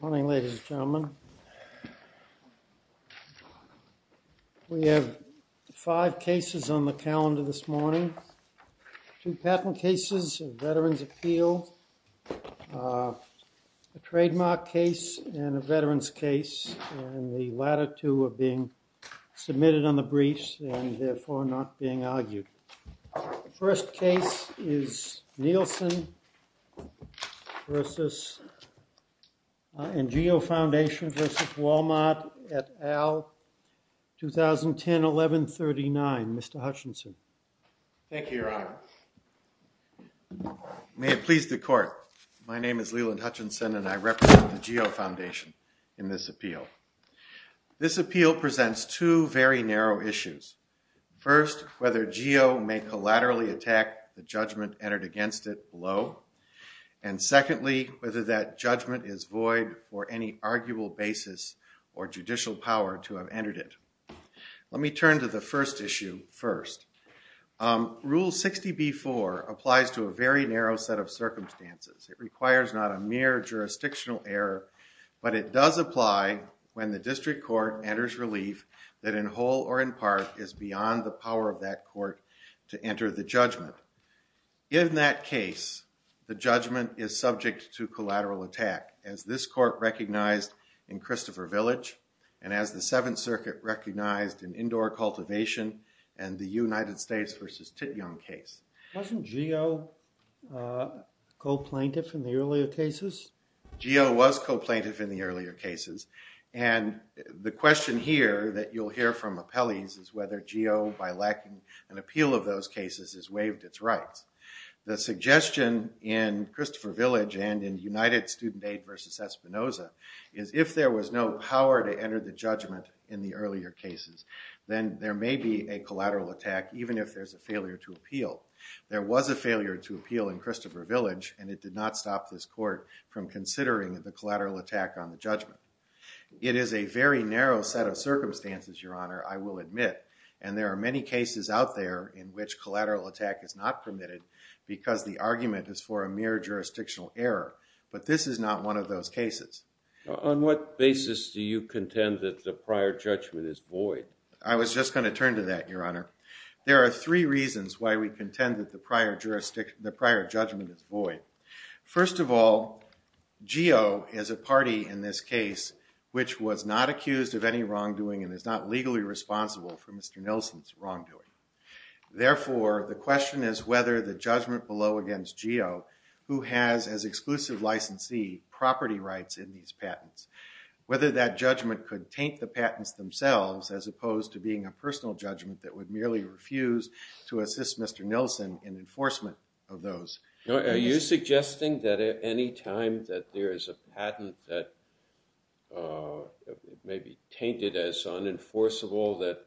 Morning, ladies and gentlemen. We have five cases on the calendar this morning. Two patent cases of Veterans Appeal, a trademark case, and a veterans case, and the latter two are being submitted on the briefs and therefore not being submitted on the briefs. I would like to introduce Mr. Leeland Hutchinson to the podium. Thank you, Your Honor. May it please the Court, my name is Leeland Hutchinson and I represent the GEO Foundation in this appeal. This appeal presents two very narrow issues. First, whether that judgment is void or any arguable basis or judicial power to have entered it. Let me turn to the first issue first. Rule 60b-4 applies to a very narrow set of circumstances. It requires not a mere jurisdictional error, but it does apply when the district court enters relief that in whole or in part is beyond the power of that court to enter the judgment. In that case, the judgment is subject to collateral attack as this court recognized in Christopher Village and as the Seventh Circuit recognized in Indoor Cultivation and the United States v. Titjong case. Wasn't GEO co-plaintiff in the earlier cases? GEO was co-plaintiff in the earlier cases and the question here that you'll hear from appellees is whether GEO, by lacking an appeal of those cases, has waived its rights. The suggestion in Christopher Village and in United Student Aid v. Espinoza is if there was no power to enter the judgment in the earlier cases, then there may be a collateral attack even if there's a failure to appeal. There was a failure to appeal in Christopher Village and it did not stop this court from considering the collateral attack on the judgment. It is a very narrow set of circumstances, Your Honor, and there are many cases out there in which collateral attack is not permitted because the argument is for a mere jurisdictional error, but this is not one of those cases. On what basis do you contend that the prior judgment is void? I was just going to turn to that, Your Honor. There are three reasons why we contend that the prior judgment is void. First of all, GEO is a party in this case which was not accused of wrongdoing and is not legally responsible for Mr. Nilsen's wrongdoing. Therefore, the question is whether the judgment below against GEO, who has as exclusive licensee property rights in these patents, whether that judgment could taint the patents themselves as opposed to being a personal judgment that would merely refuse to assist Mr. Nilsen in enforcement of those. Are you suggesting that at any time that there is a patent that may be tainted as unenforceable that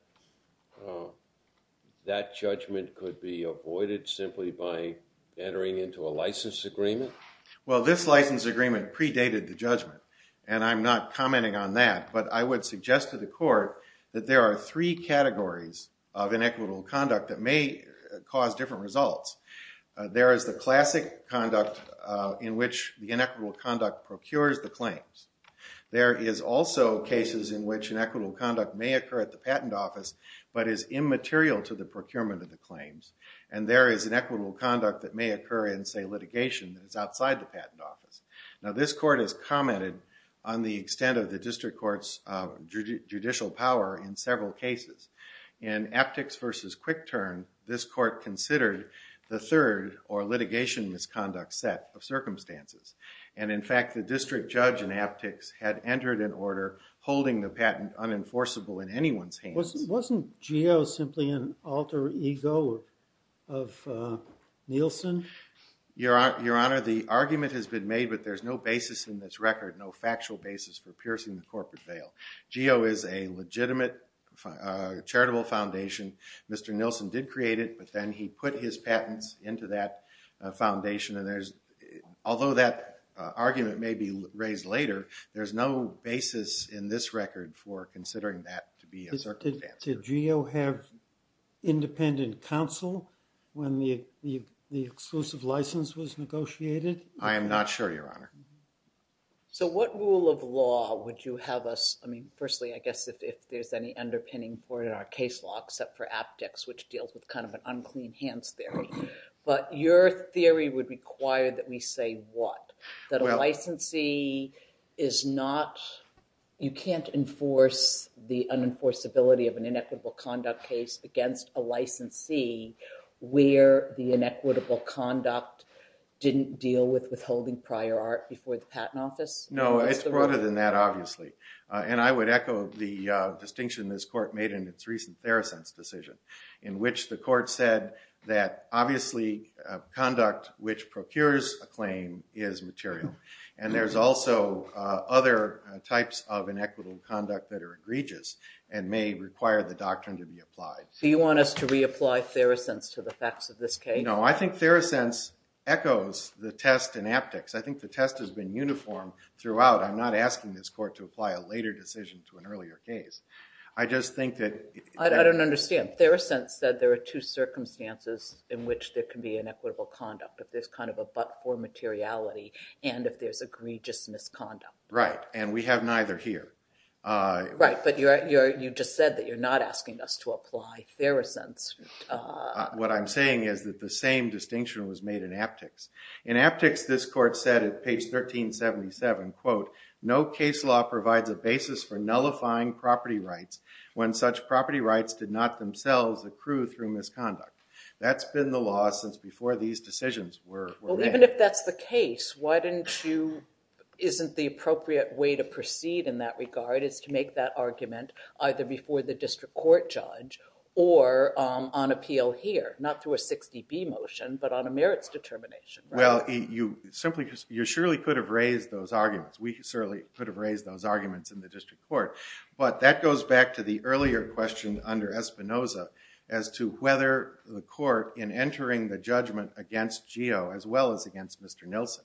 that judgment could be avoided simply by entering into a license agreement? Well, this license agreement predated the judgment, and I'm not commenting on that, but I would suggest to the court that there are three categories of inequitable conduct that may cause different results. There is the classic conduct in which the inequitable conduct procures the claims. There is also cases in which inequitable conduct may occur at the patent office but is immaterial to the procurement of the claims, and there is inequitable conduct that may occur in, say, litigation that is outside the patent office. Now, this court has commented on the extent of the district court's judicial power in several cases. In Aptex v. Quick Turn, this court considered the third or litigation misconduct set of circumstances, and in fact, the district judge in Aptex had entered an order holding the patent unenforceable in anyone's hands. Wasn't GEO simply an alter ego of Nilsen? Your Honor, the argument has been made, but there's no basis in this record, no factual basis for piercing the corporate veil. GEO is a legitimate charitable foundation. Mr. Nilsen did create it, but then he put his patents into that foundation, and there's, although that argument may be raised later, there's no basis in this record for considering that to be a circumstance. Did GEO have independent counsel when the exclusive license was negotiated? I am not sure, Your Honor. So what rule of law would you have us, I mean, firstly, I guess if there's any underpinning in our case law except for Aptex, which deals with kind of an unclean hands theory, but your theory would require that we say what? That a licensee is not, you can't enforce the unenforceability of an inequitable conduct case against a licensee where the inequitable conduct didn't deal with withholding prior art before the patent office? No, it's broader than that, obviously, and I would echo the distinction this court made in its recent Therosense decision, in which the court said that obviously conduct which procures a claim is material, and there's also other types of inequitable conduct that are egregious and may require the doctrine to be applied. So you want us to reapply Therosense to the facts of this case? No, I think Therosense echoes the test in Aptex. I think the test has been uniform throughout. I'm not asking this court to apply a later decision to an earlier case. I just think that... I don't understand. Therosense said there are two circumstances in which there can be inequitable conduct, if there's kind of a but for materiality and if there's egregious misconduct. Right, and we have neither here. Right, but you just said that you're not asking us to apply Therosense. What I'm saying is that the same distinction was made in Aptex. In Aptex, this court said at page 1377, quote, no case law provides a basis for nullifying property rights when such property rights did not themselves accrue through misconduct. That's been the law since before these decisions were made. Well, even if that's the case, why didn't you... isn't the appropriate way to proceed in that regard is to make that argument either before the district court judge or on appeal here, not through a 60B motion, but on a merits determination, right? Well, you surely could have raised those arguments. We surely could have raised those arguments in the district court, but that goes back to the earlier question under Espinoza as to whether the court, in entering the judgment against Geo as well as against Mr. Nilsen,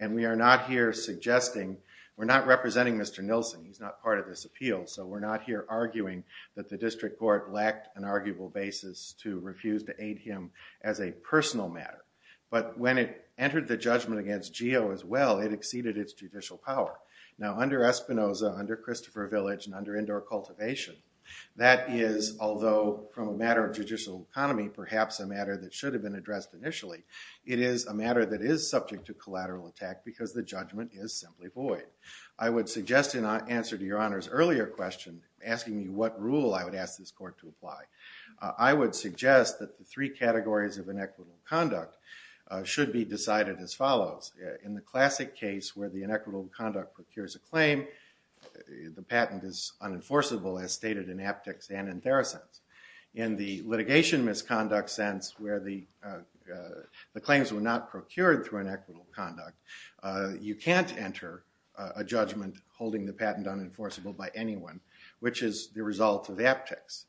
and we are not here suggesting, we're not representing Mr. Nilsen. He's not part of this appeal, so we're not here arguing that the district court lacked an arguable basis to refuse to aid him as a personal matter. But when it entered the judgment against Geo as well, it exceeded its judicial power. Now, under Espinoza, under Christopher Village, and under Indoor Cultivation, that is, although from a matter of judicial economy, perhaps a matter that should have been addressed initially, it is a matter that is subject to collateral attack because the judgment is simply void. I would suggest in answer to Your Honor's earlier question, asking me what rule I would ask this court to apply, I would suggest that the three categories of inequitable conduct should be decided as follows. In the classic case where the inequitable conduct procures a claim, the patent is unenforceable as stated in Aptex and in Theracents. In the litigation misconduct sense where the claims were not procured through inequitable conduct, you can't enter a judgment holding the patent unenforceable by anyone, which is the result of Aptex.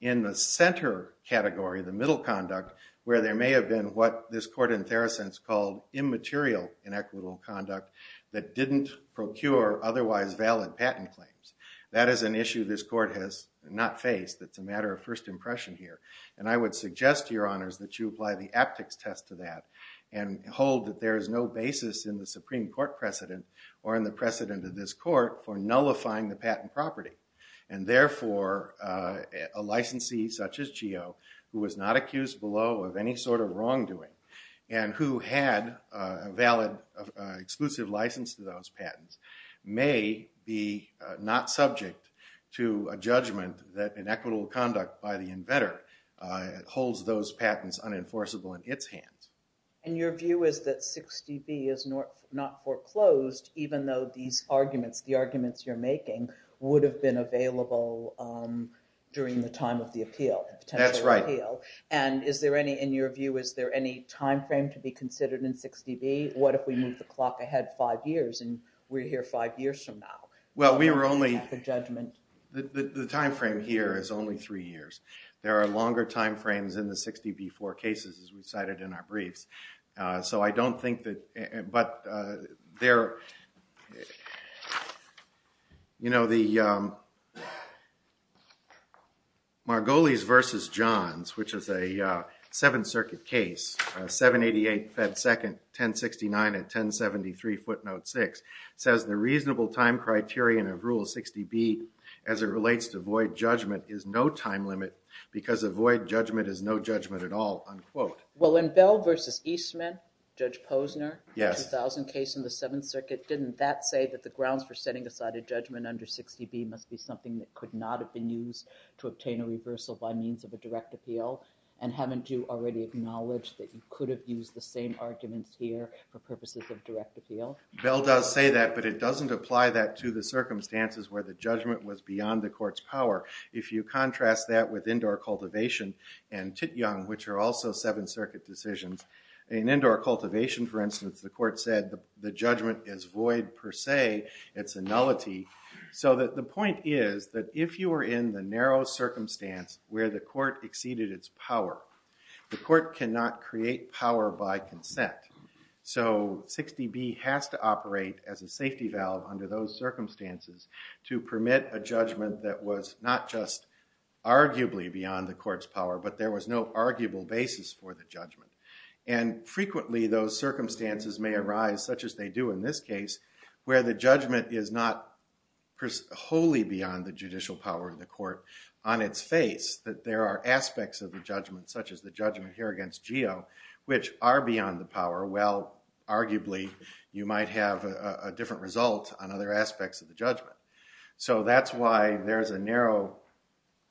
In the center category, the middle conduct, where there may have been what this court in Theracents called immaterial inequitable conduct that didn't procure otherwise valid patent claims, that is an issue this court has not faced. It's a matter of first impression here. And I would suggest to Your Honors that you apply the Aptex test to that and hold that there is no basis in the Supreme Court precedent or in the precedent of this court for nullifying the patent property. And therefore, a licensee such as Geo, who was not accused below of any sort of wrongdoing and who had a valid exclusive license to those patents, may be not subject to a judgment that inequitable conduct by the inventor holds those patents unenforceable in its hands. And your view is that 60B is not foreclosed, even though these arguments, the arguments you're making, would have been available during the time of the appeal. That's right. And is there any, in your view, is there any time frame to be considered in 60B? What if we move the clock ahead five years and we're here five years from now? Well, we were only, the time frame here is only three years. There are longer time frames in the 60B4 cases as we cited in our briefs. So I don't think that, but there, you know, the Margolis versus Johns, which is a Seventh Circuit case, 788 Fed Second, 1069 and 1073 footnote six, says the reasonable time criterion of rule 60B as it relates to void judgment is no time limit because a void judgment is no judgment at all, unquote. Well, in Bell versus Eastman, Judge Posner, 2000 case in the Seventh Circuit, didn't that say that the grounds for setting aside a judgment under 60B must be something that could not have been used to obtain a reversal by means of a direct appeal? And haven't you already acknowledged that you could have used the same arguments here for purposes of direct appeal? Bell does say that, but it doesn't apply that to the circumstances where the judgment was beyond the court's power. If you contrast that with indoor cultivation and Titjong, which are also Seventh Circuit decisions, in indoor cultivation, for instance, the court said the judgment is void per se. It's a nullity. So that the point is that if you were in the narrow circumstance where the court exceeded its power, the court cannot create power by consent. So 60B has to operate as a safety valve under those circumstances to permit a judgment that was not just arguably beyond the court's power, but there was no arguable basis for the judgment. And frequently those circumstances may arise, such as they do in this case, where the judgment is not wholly beyond the judicial power of the court on its face, that there are aspects of the judgment, such as the judgment here against Geo, which are beyond the power. Well, arguably, you might have a different result on other aspects of the judgment. So that's why there's a narrow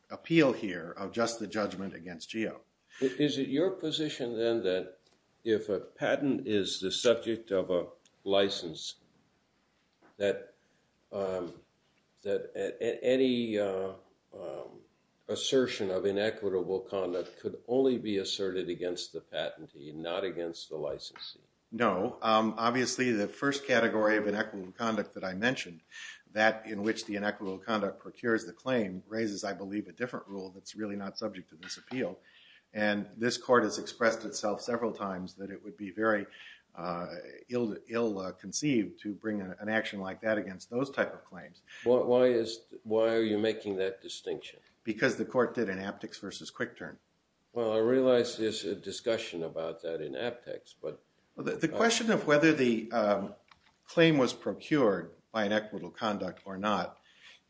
appeal here of just the judgment against Geo. Is it your position, then, that if a patent is the subject of a license, that any assertion of inequitable conduct could only be asserted against the patentee, not against the licensee? No. Obviously, the first category of inequitable conduct that I mentioned, that in which the inequitable conduct procures the claim, raises, I believe, a different rule that's really not and this court has expressed itself several times that it would be very ill-conceived to bring an action like that against those type of claims. Why are you making that distinction? Because the court did an aptex versus quick turn. Well, I realize there's a discussion about that in aptex, but... The question of whether the claim was procured by inequitable conduct or not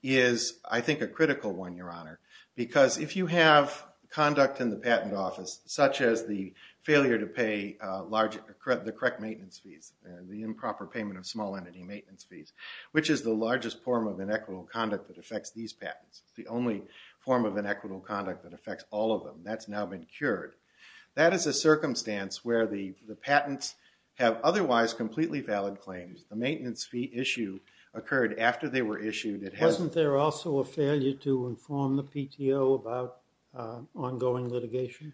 is, I think, a critical one, Your Honor, because if you have conduct in the patent office, such as the failure to pay the correct maintenance fees, the improper payment of small entity maintenance fees, which is the largest form of inequitable conduct that affects these patents, the only form of inequitable conduct that affects all of them, that's now been cured. That is a circumstance where the patents have otherwise completely valid claims. The maintenance fee issue occurred after they were issued. Wasn't there also a failure to inform the PTO about ongoing litigation?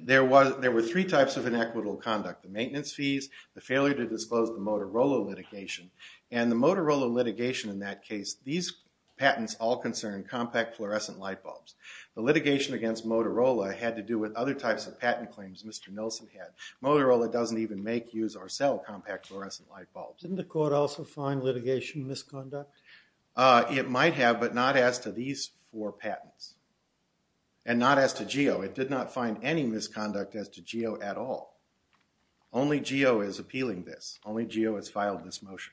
There were three types of inequitable conduct, the maintenance fees, the failure to disclose the Motorola litigation, and the Motorola litigation in that case, these patents all concern compact fluorescent light bulbs. The litigation against Motorola had to do with other types of patent claims Mr. Nelson had. Motorola doesn't even make, use, or sell compact fluorescent light bulbs. Didn't the court also find litigation misconduct? It might have, but not as to these four patents, and not as to GEO. It did not find any misconduct as to GEO at all. Only GEO is appealing this. Only GEO has filed this motion.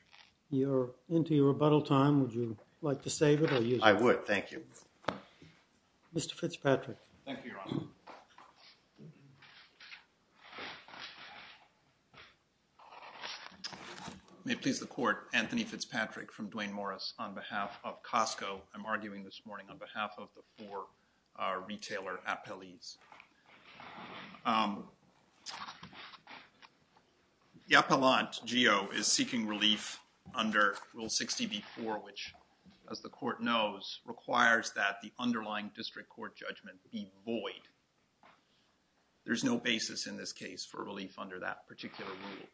You're into your rebuttal time. Would like to save it or use it? I would, thank you. Mr. Fitzpatrick. Thank you, Your Honor. May it please the court, Anthony Fitzpatrick from Duane Morris on behalf of Costco. I'm arguing this morning on behalf of the four retailer appellees. The appellant, GEO, is seeking relief under Rule 60b-4, which, as the court knows, requires that the underlying district court judgment be void. There's no basis in this case for relief under that particular rule.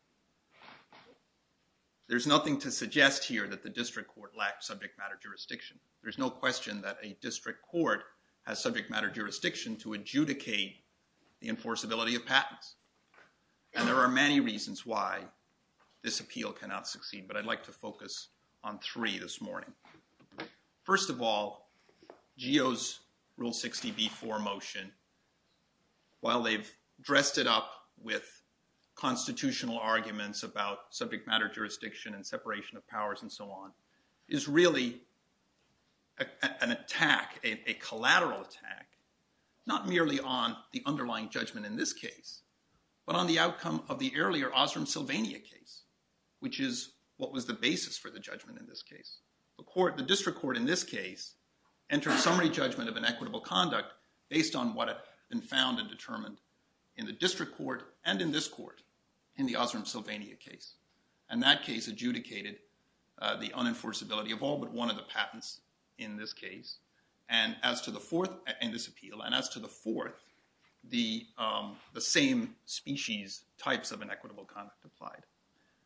There's nothing to suggest here that the district court lacks subject matter jurisdiction. There's no question that a district court has subject matter jurisdiction to adjudicate the enforceability of patents. There are many reasons why this appeal cannot succeed, but I'd like to focus on three this morning. First of all, GEO's Rule 60b-4 motion, while they've dressed it up with constitutional arguments about subject matter jurisdiction and the underlying judgment in this case, but on the outcome of the earlier Osram Sylvania case, which is what was the basis for the judgment in this case. The district court in this case entered summary judgment of inequitable conduct based on what had been found and determined in the district court and in this court in the Osram Sylvania case, and that case adjudicated the unenforceability of all but one of the patents in this case. And as to the fourth the same species types of inequitable conduct applied.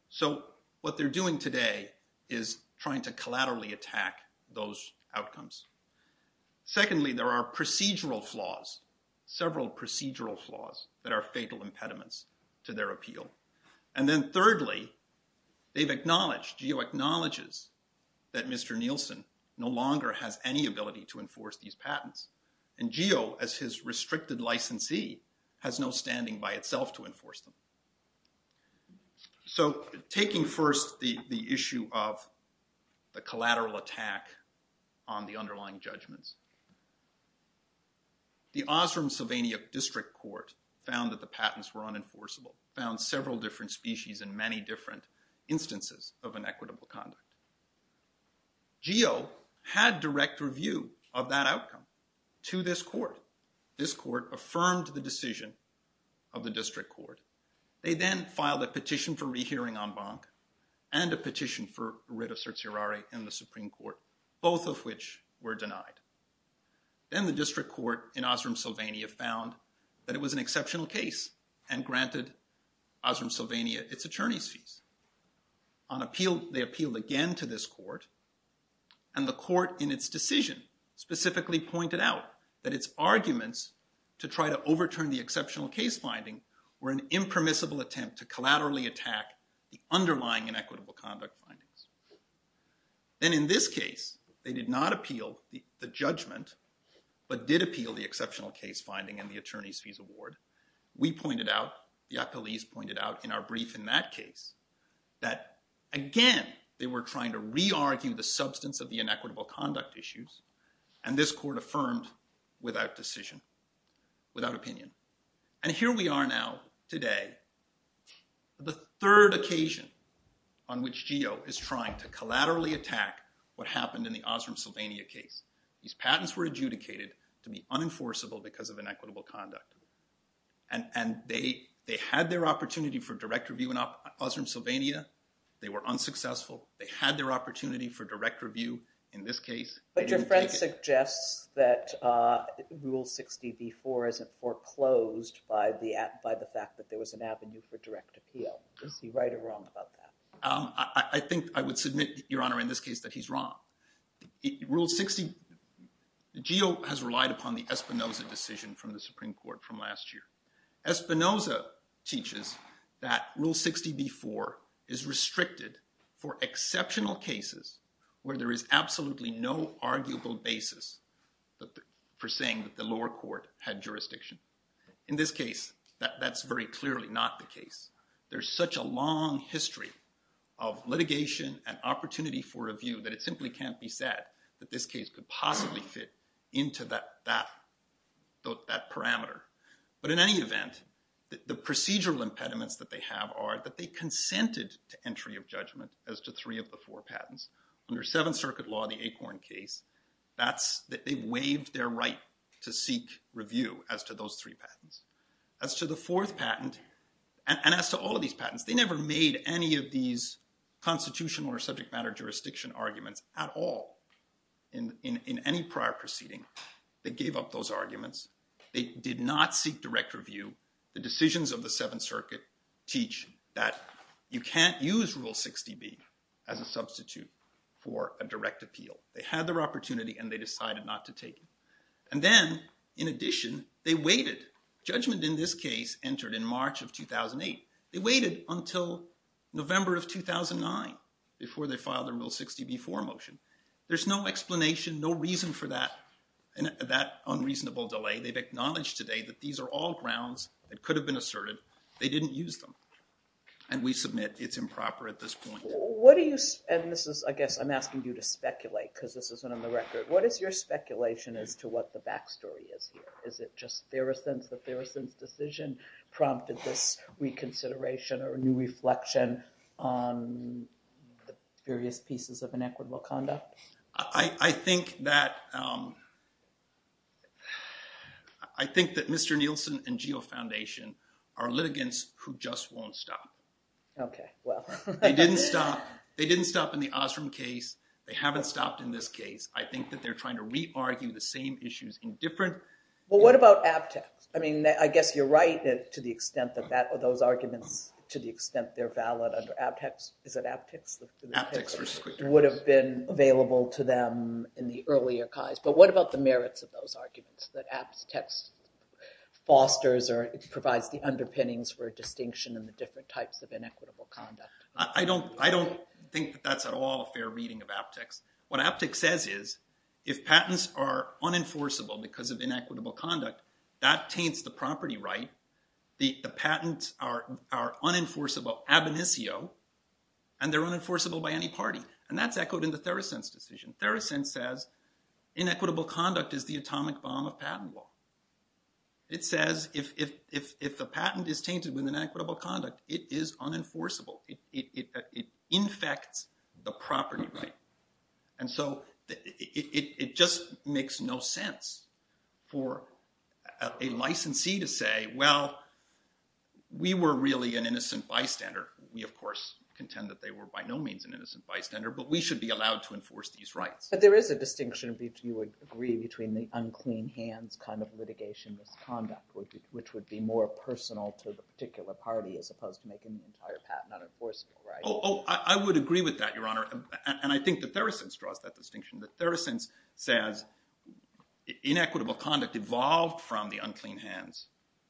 So what they're doing today is trying to collaterally attack those outcomes. Secondly, there are procedural flaws, several procedural flaws that are fatal impediments to their appeal. And then thirdly, they've acknowledged, GEO acknowledges that Mr. Nielsen no longer has any ability to enforce these patents. And GEO, as his restricted licensee, has no standing by itself to enforce them. So taking first the issue of the collateral attack on the underlying judgments, the Osram Sylvania district court found that the patents were unenforceable, found several different species in many different instances of inequitable conduct. GEO had direct review of that outcome to this court. This court affirmed the decision of the district court. They then filed a petition for rehearing en banc and a petition for writ of certiorari in the Supreme Court, both of which were denied. Then the district court in Osram Sylvania found that it was an exceptional case and granted Osram Sylvania its attorney's fees. On appeal, they appealed again to this court and the court in its decision specifically pointed out that its arguments to try to overturn the exceptional case finding were an impermissible attempt to collaterally attack the underlying inequitable conduct findings. Then in this case, they did not appeal the judgment but did appeal the exceptional case finding and the attorney's brief in that case that again they were trying to re-argue the substance of the inequitable conduct issues and this court affirmed without decision, without opinion. And here we are now today, the third occasion on which GEO is trying to collaterally attack what happened in the Osram Sylvania case. These patents were adjudicated to be unenforceable because of inequitable conduct and they had their opportunity for direct review in Osram Sylvania. They were unsuccessful. They had their opportunity for direct review in this case. But your friend suggests that rule 60b4 isn't foreclosed by the fact that there was an avenue for direct appeal. Is he right or wrong about that? I think I would submit, Your Honor, in this case that he's wrong. Rule 60, GEO has relied upon the Espinoza decision from the Supreme Court from last year. Espinoza teaches that rule 60b4 is restricted for exceptional cases where there is absolutely no arguable basis for saying that the lower court had jurisdiction. In this case, that's very clearly not the case. There's such a long history of litigation and opportunity for review that it simply can't be said that this could possibly fit into that parameter. But in any event, the procedural impediments that they have are that they consented to entry of judgment as to three of the four patents. Under Seventh Circuit law, the Acorn case, they waived their right to seek review as to those three patents. As to the fourth patent and as to all of these patents, they never made any of these constitutional or subject matter jurisdiction arguments at all in any prior proceeding. They gave up those arguments. They did not seek direct review. The decisions of the Seventh Circuit teach that you can't use rule 60b as a substitute for a direct appeal. They had their opportunity and they decided not to take it. And then, in addition, they waited. Judgment in this case entered in March of 2008. They waited until November of 2009 before they filed their rule 60b-4 motion. There's no explanation, no reason for that unreasonable delay. They've acknowledged today that these are all grounds that could have been asserted. They didn't use them. And we submit it's improper at this point. What do you, and this is, I guess I'm asking you to speculate because this isn't on the record, what is your speculation as to what the backstory is here? Is it just that Feruson's decision prompted this reconsideration or a new reflection on the various pieces of inequitable conduct? I think that Mr. Nielsen and GEO Foundation are litigants who just won't stop. Okay, well. They didn't stop in the Osram case. They haven't stopped in this case. I think that they're trying to re-argue the same issues in AptX. I mean, I guess you're right to the extent that those arguments, to the extent they're valid under AptX. Is it AptX? AptX versus QuickTest. Would have been available to them in the earlier case. But what about the merits of those arguments that AptX fosters or provides the underpinnings for distinction and the different types of inequitable conduct? I don't think that's at all a fair reading of AptX. What AptX says is, if patents are unenforceable because of inequitable conduct, that taints the property right. The patents are unenforceable ab initio and they're unenforceable by any party. And that's echoed in the Feruson's decision. Feruson says, inequitable conduct is the atomic bomb of patent law. It says, if the patent is tainted with inequitable conduct, it is unenforceable. It infects the property right. And so it just makes no sense for a licensee to say, well, we were really an innocent bystander. We, of course, contend that they were by no means an innocent bystander, but we should be allowed to enforce these rights. But there is a distinction between, you would agree, between the unclean hands kind of litigation misconduct, which would be more personal to the particular party as opposed to making the entire patent unenforceable, right? Oh, I would agree with that, Your Honor. And I say, inequitable conduct evolved from the unclean hands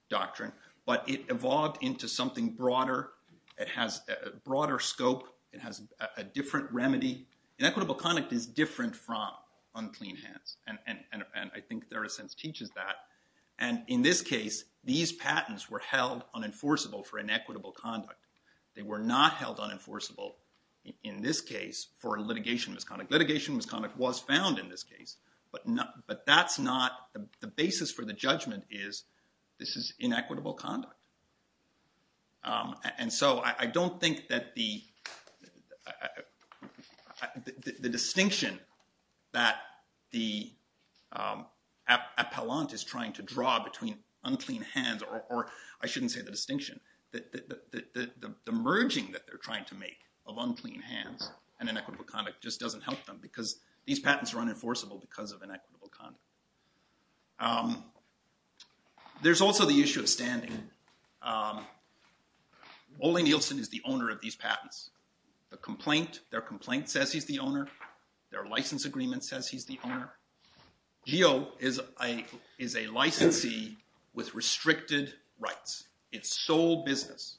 doctrine, but it evolved into something broader. It has a broader scope. It has a different remedy. Inequitable conduct is different from unclean hands. And I think Feruson teaches that. And in this case, these patents were held unenforceable for inequitable conduct. They were not held unenforceable in this case for litigation misconduct. Litigation misconduct was found in this case, but that's not the basis for the judgment is this is inequitable conduct. And so I don't think that the distinction that the appellant is trying to draw between unclean hands, or I shouldn't say the distinction, that the merging that they're trying to make of unclean hands and inequitable conduct just doesn't help them because these patents are unenforceable because of inequitable conduct. There's also the issue of standing. Ole Nielsen is the owner of these patents. The complaint, their complaint says he's the owner. Their license agreement says he's the owner. GEO is a licensee with restricted rights. Its sole business,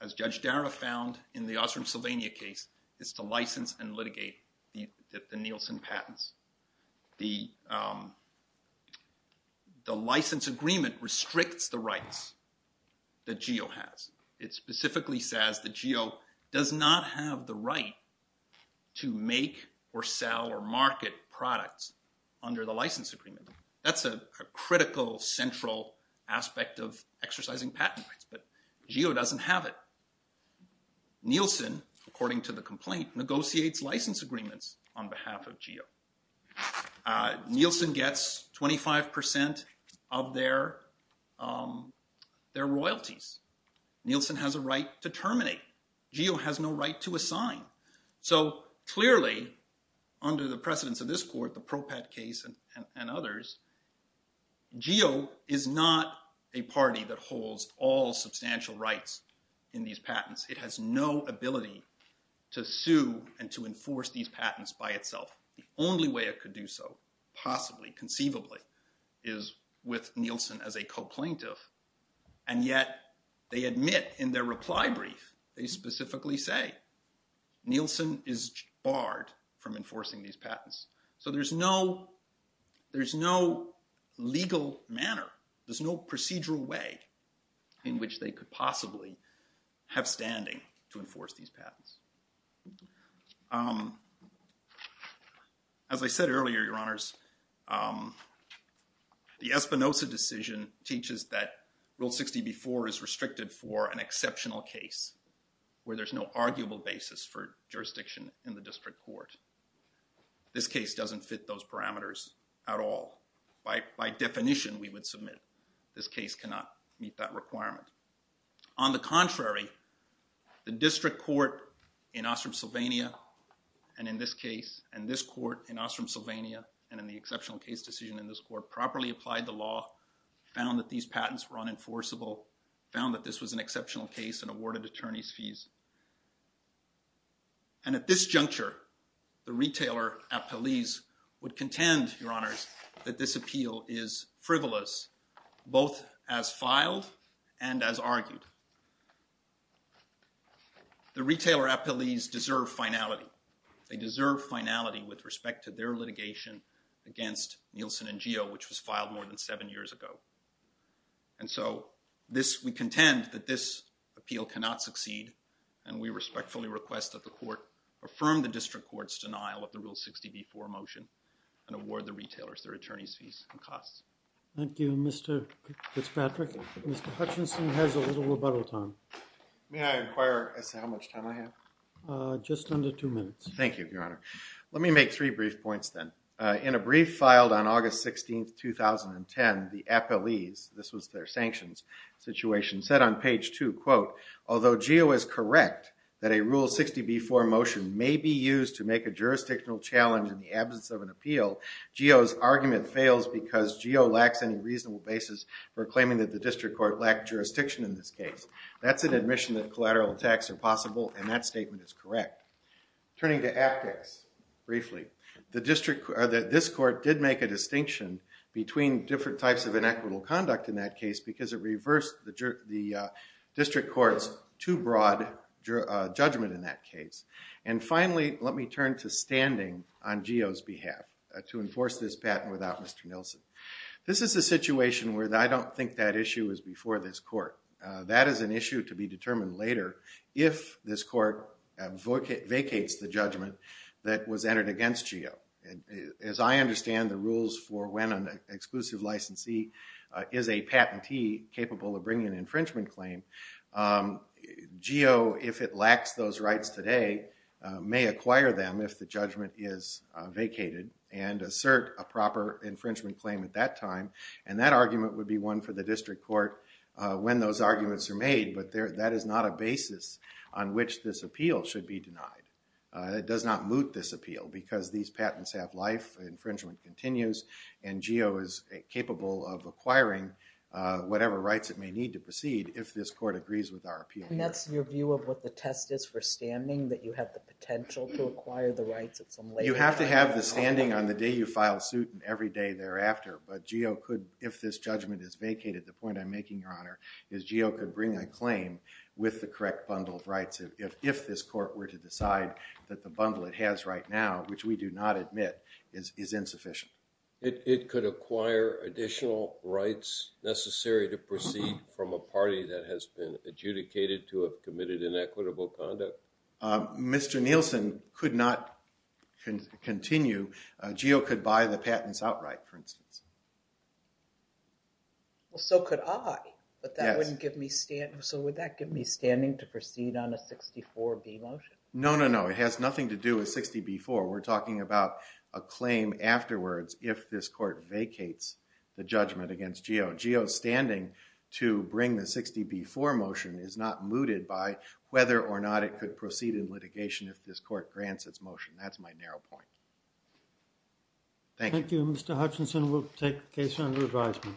as Judge Dara found in the Osram Sylvania case, is to license and litigate the Nielsen patents. The license agreement restricts the rights that GEO has. It specifically says that GEO does not have the right to make or sell or under the license agreement. That's a critical central aspect of exercising patent rights, but GEO doesn't have it. Nielsen, according to the complaint, negotiates license agreements on behalf of GEO. Nielsen gets 25% of their royalties. Nielsen has a right to terminate. GEO has no right to assign. So clearly, under the precedence of this court, the Propat case and others, GEO is not a party that holds all substantial rights in these patents. It has no ability to sue and to enforce these patents by itself. The only way it could do so, possibly, conceivably, is with Nielsen as a co-plaintiff. And yet, they admit in their reply brief, they specifically say Nielsen is barred from enforcing these patents. So there's no legal manner, there's no procedural way in which they could possibly have standing to enforce these patents. As I said earlier, your honors, the Espinoza decision teaches that Rule 60b-4 is restricted for an exceptional case where there's no arguable basis for jurisdiction in the district court. This case doesn't fit those parameters at all. By definition, we would submit this case cannot meet that requirement. On the contrary, the district court in Ostrom, Sylvania, and in this case, and this court in Ostrom, Sylvania, and in the exceptional case decision in this court, properly applied the law, found that these patents were unenforceable, found that this was an exceptional case, and awarded attorneys fees. And at this both as filed and as argued, the retailer appellees deserve finality. They deserve finality with respect to their litigation against Nielsen and GEO, which was filed more than seven years ago. And so, we contend that this appeal cannot succeed, and we respectfully request that the court affirm the district court's denial of the Rule 60b-4 motion and award the retailers their attorneys fees and costs. Thank you, Mr. Fitzpatrick. Mr. Hutchinson has a little rebuttal time. May I inquire as to how much time I have? Just under two minutes. Thank you, Your Honor. Let me make three brief points then. In a brief filed on August 16, 2010, the appellees, this was their sanctions situation, said on page two, quote, although GEO is correct that a Rule 60b-4 motion may be used to make a jurisdictional challenge in the absence of an appeal, GEO's argument fails because GEO lacks any reasonable basis for claiming that the district court lacked jurisdiction in this case. That's an admission that collateral attacks are possible, and that statement is correct. Turning to aptX, briefly, this court did make a distinction between different types of inequitable conduct in that case because it reversed the district court's broad judgment in that case. Finally, let me turn to standing on GEO's behalf to enforce this patent without Mr. Nilsen. This is a situation where I don't think that issue is before this court. That is an issue to be determined later if this court vacates the judgment that was entered against GEO. As I understand the rules for when an exclusive licensee is a patentee capable of GEO, if it lacks those rights today, may acquire them if the judgment is vacated and assert a proper infringement claim at that time. And that argument would be one for the district court when those arguments are made, but that is not a basis on which this appeal should be denied. It does not moot this appeal because these patents have life, infringement continues, and GEO is capable of acquiring whatever rights it may need to proceed if this court agrees with our appeal. And that's your view of what the test is for standing, that you have the potential to acquire the rights at some later time? You have to have the standing on the day you file suit and every day thereafter, but GEO could, if this judgment is vacated, the point I'm making, Your Honor, is GEO could bring a claim with the correct bundled rights if this court were to decide that the bundle it has right now, which we do not admit, is insufficient. It could acquire additional rights necessary to proceed from a party that has been adjudicated to have committed inequitable conduct? Mr. Nielsen could not continue. GEO could buy the patents outright, for instance. Well, so could I, but that wouldn't give me standing. So would that give me standing to proceed on a 64B motion? No, no, no. It has nothing to do with 60B4. We're talking about a claim afterwards if this court vacates the judgment against GEO. GEO's standing to bring the 60B4 motion is not mooted by whether or not it could proceed in litigation if this court grants its motion. That's my narrow point. Thank you. Thank you. Mr. Hutchinson, we'll take the case under advisement.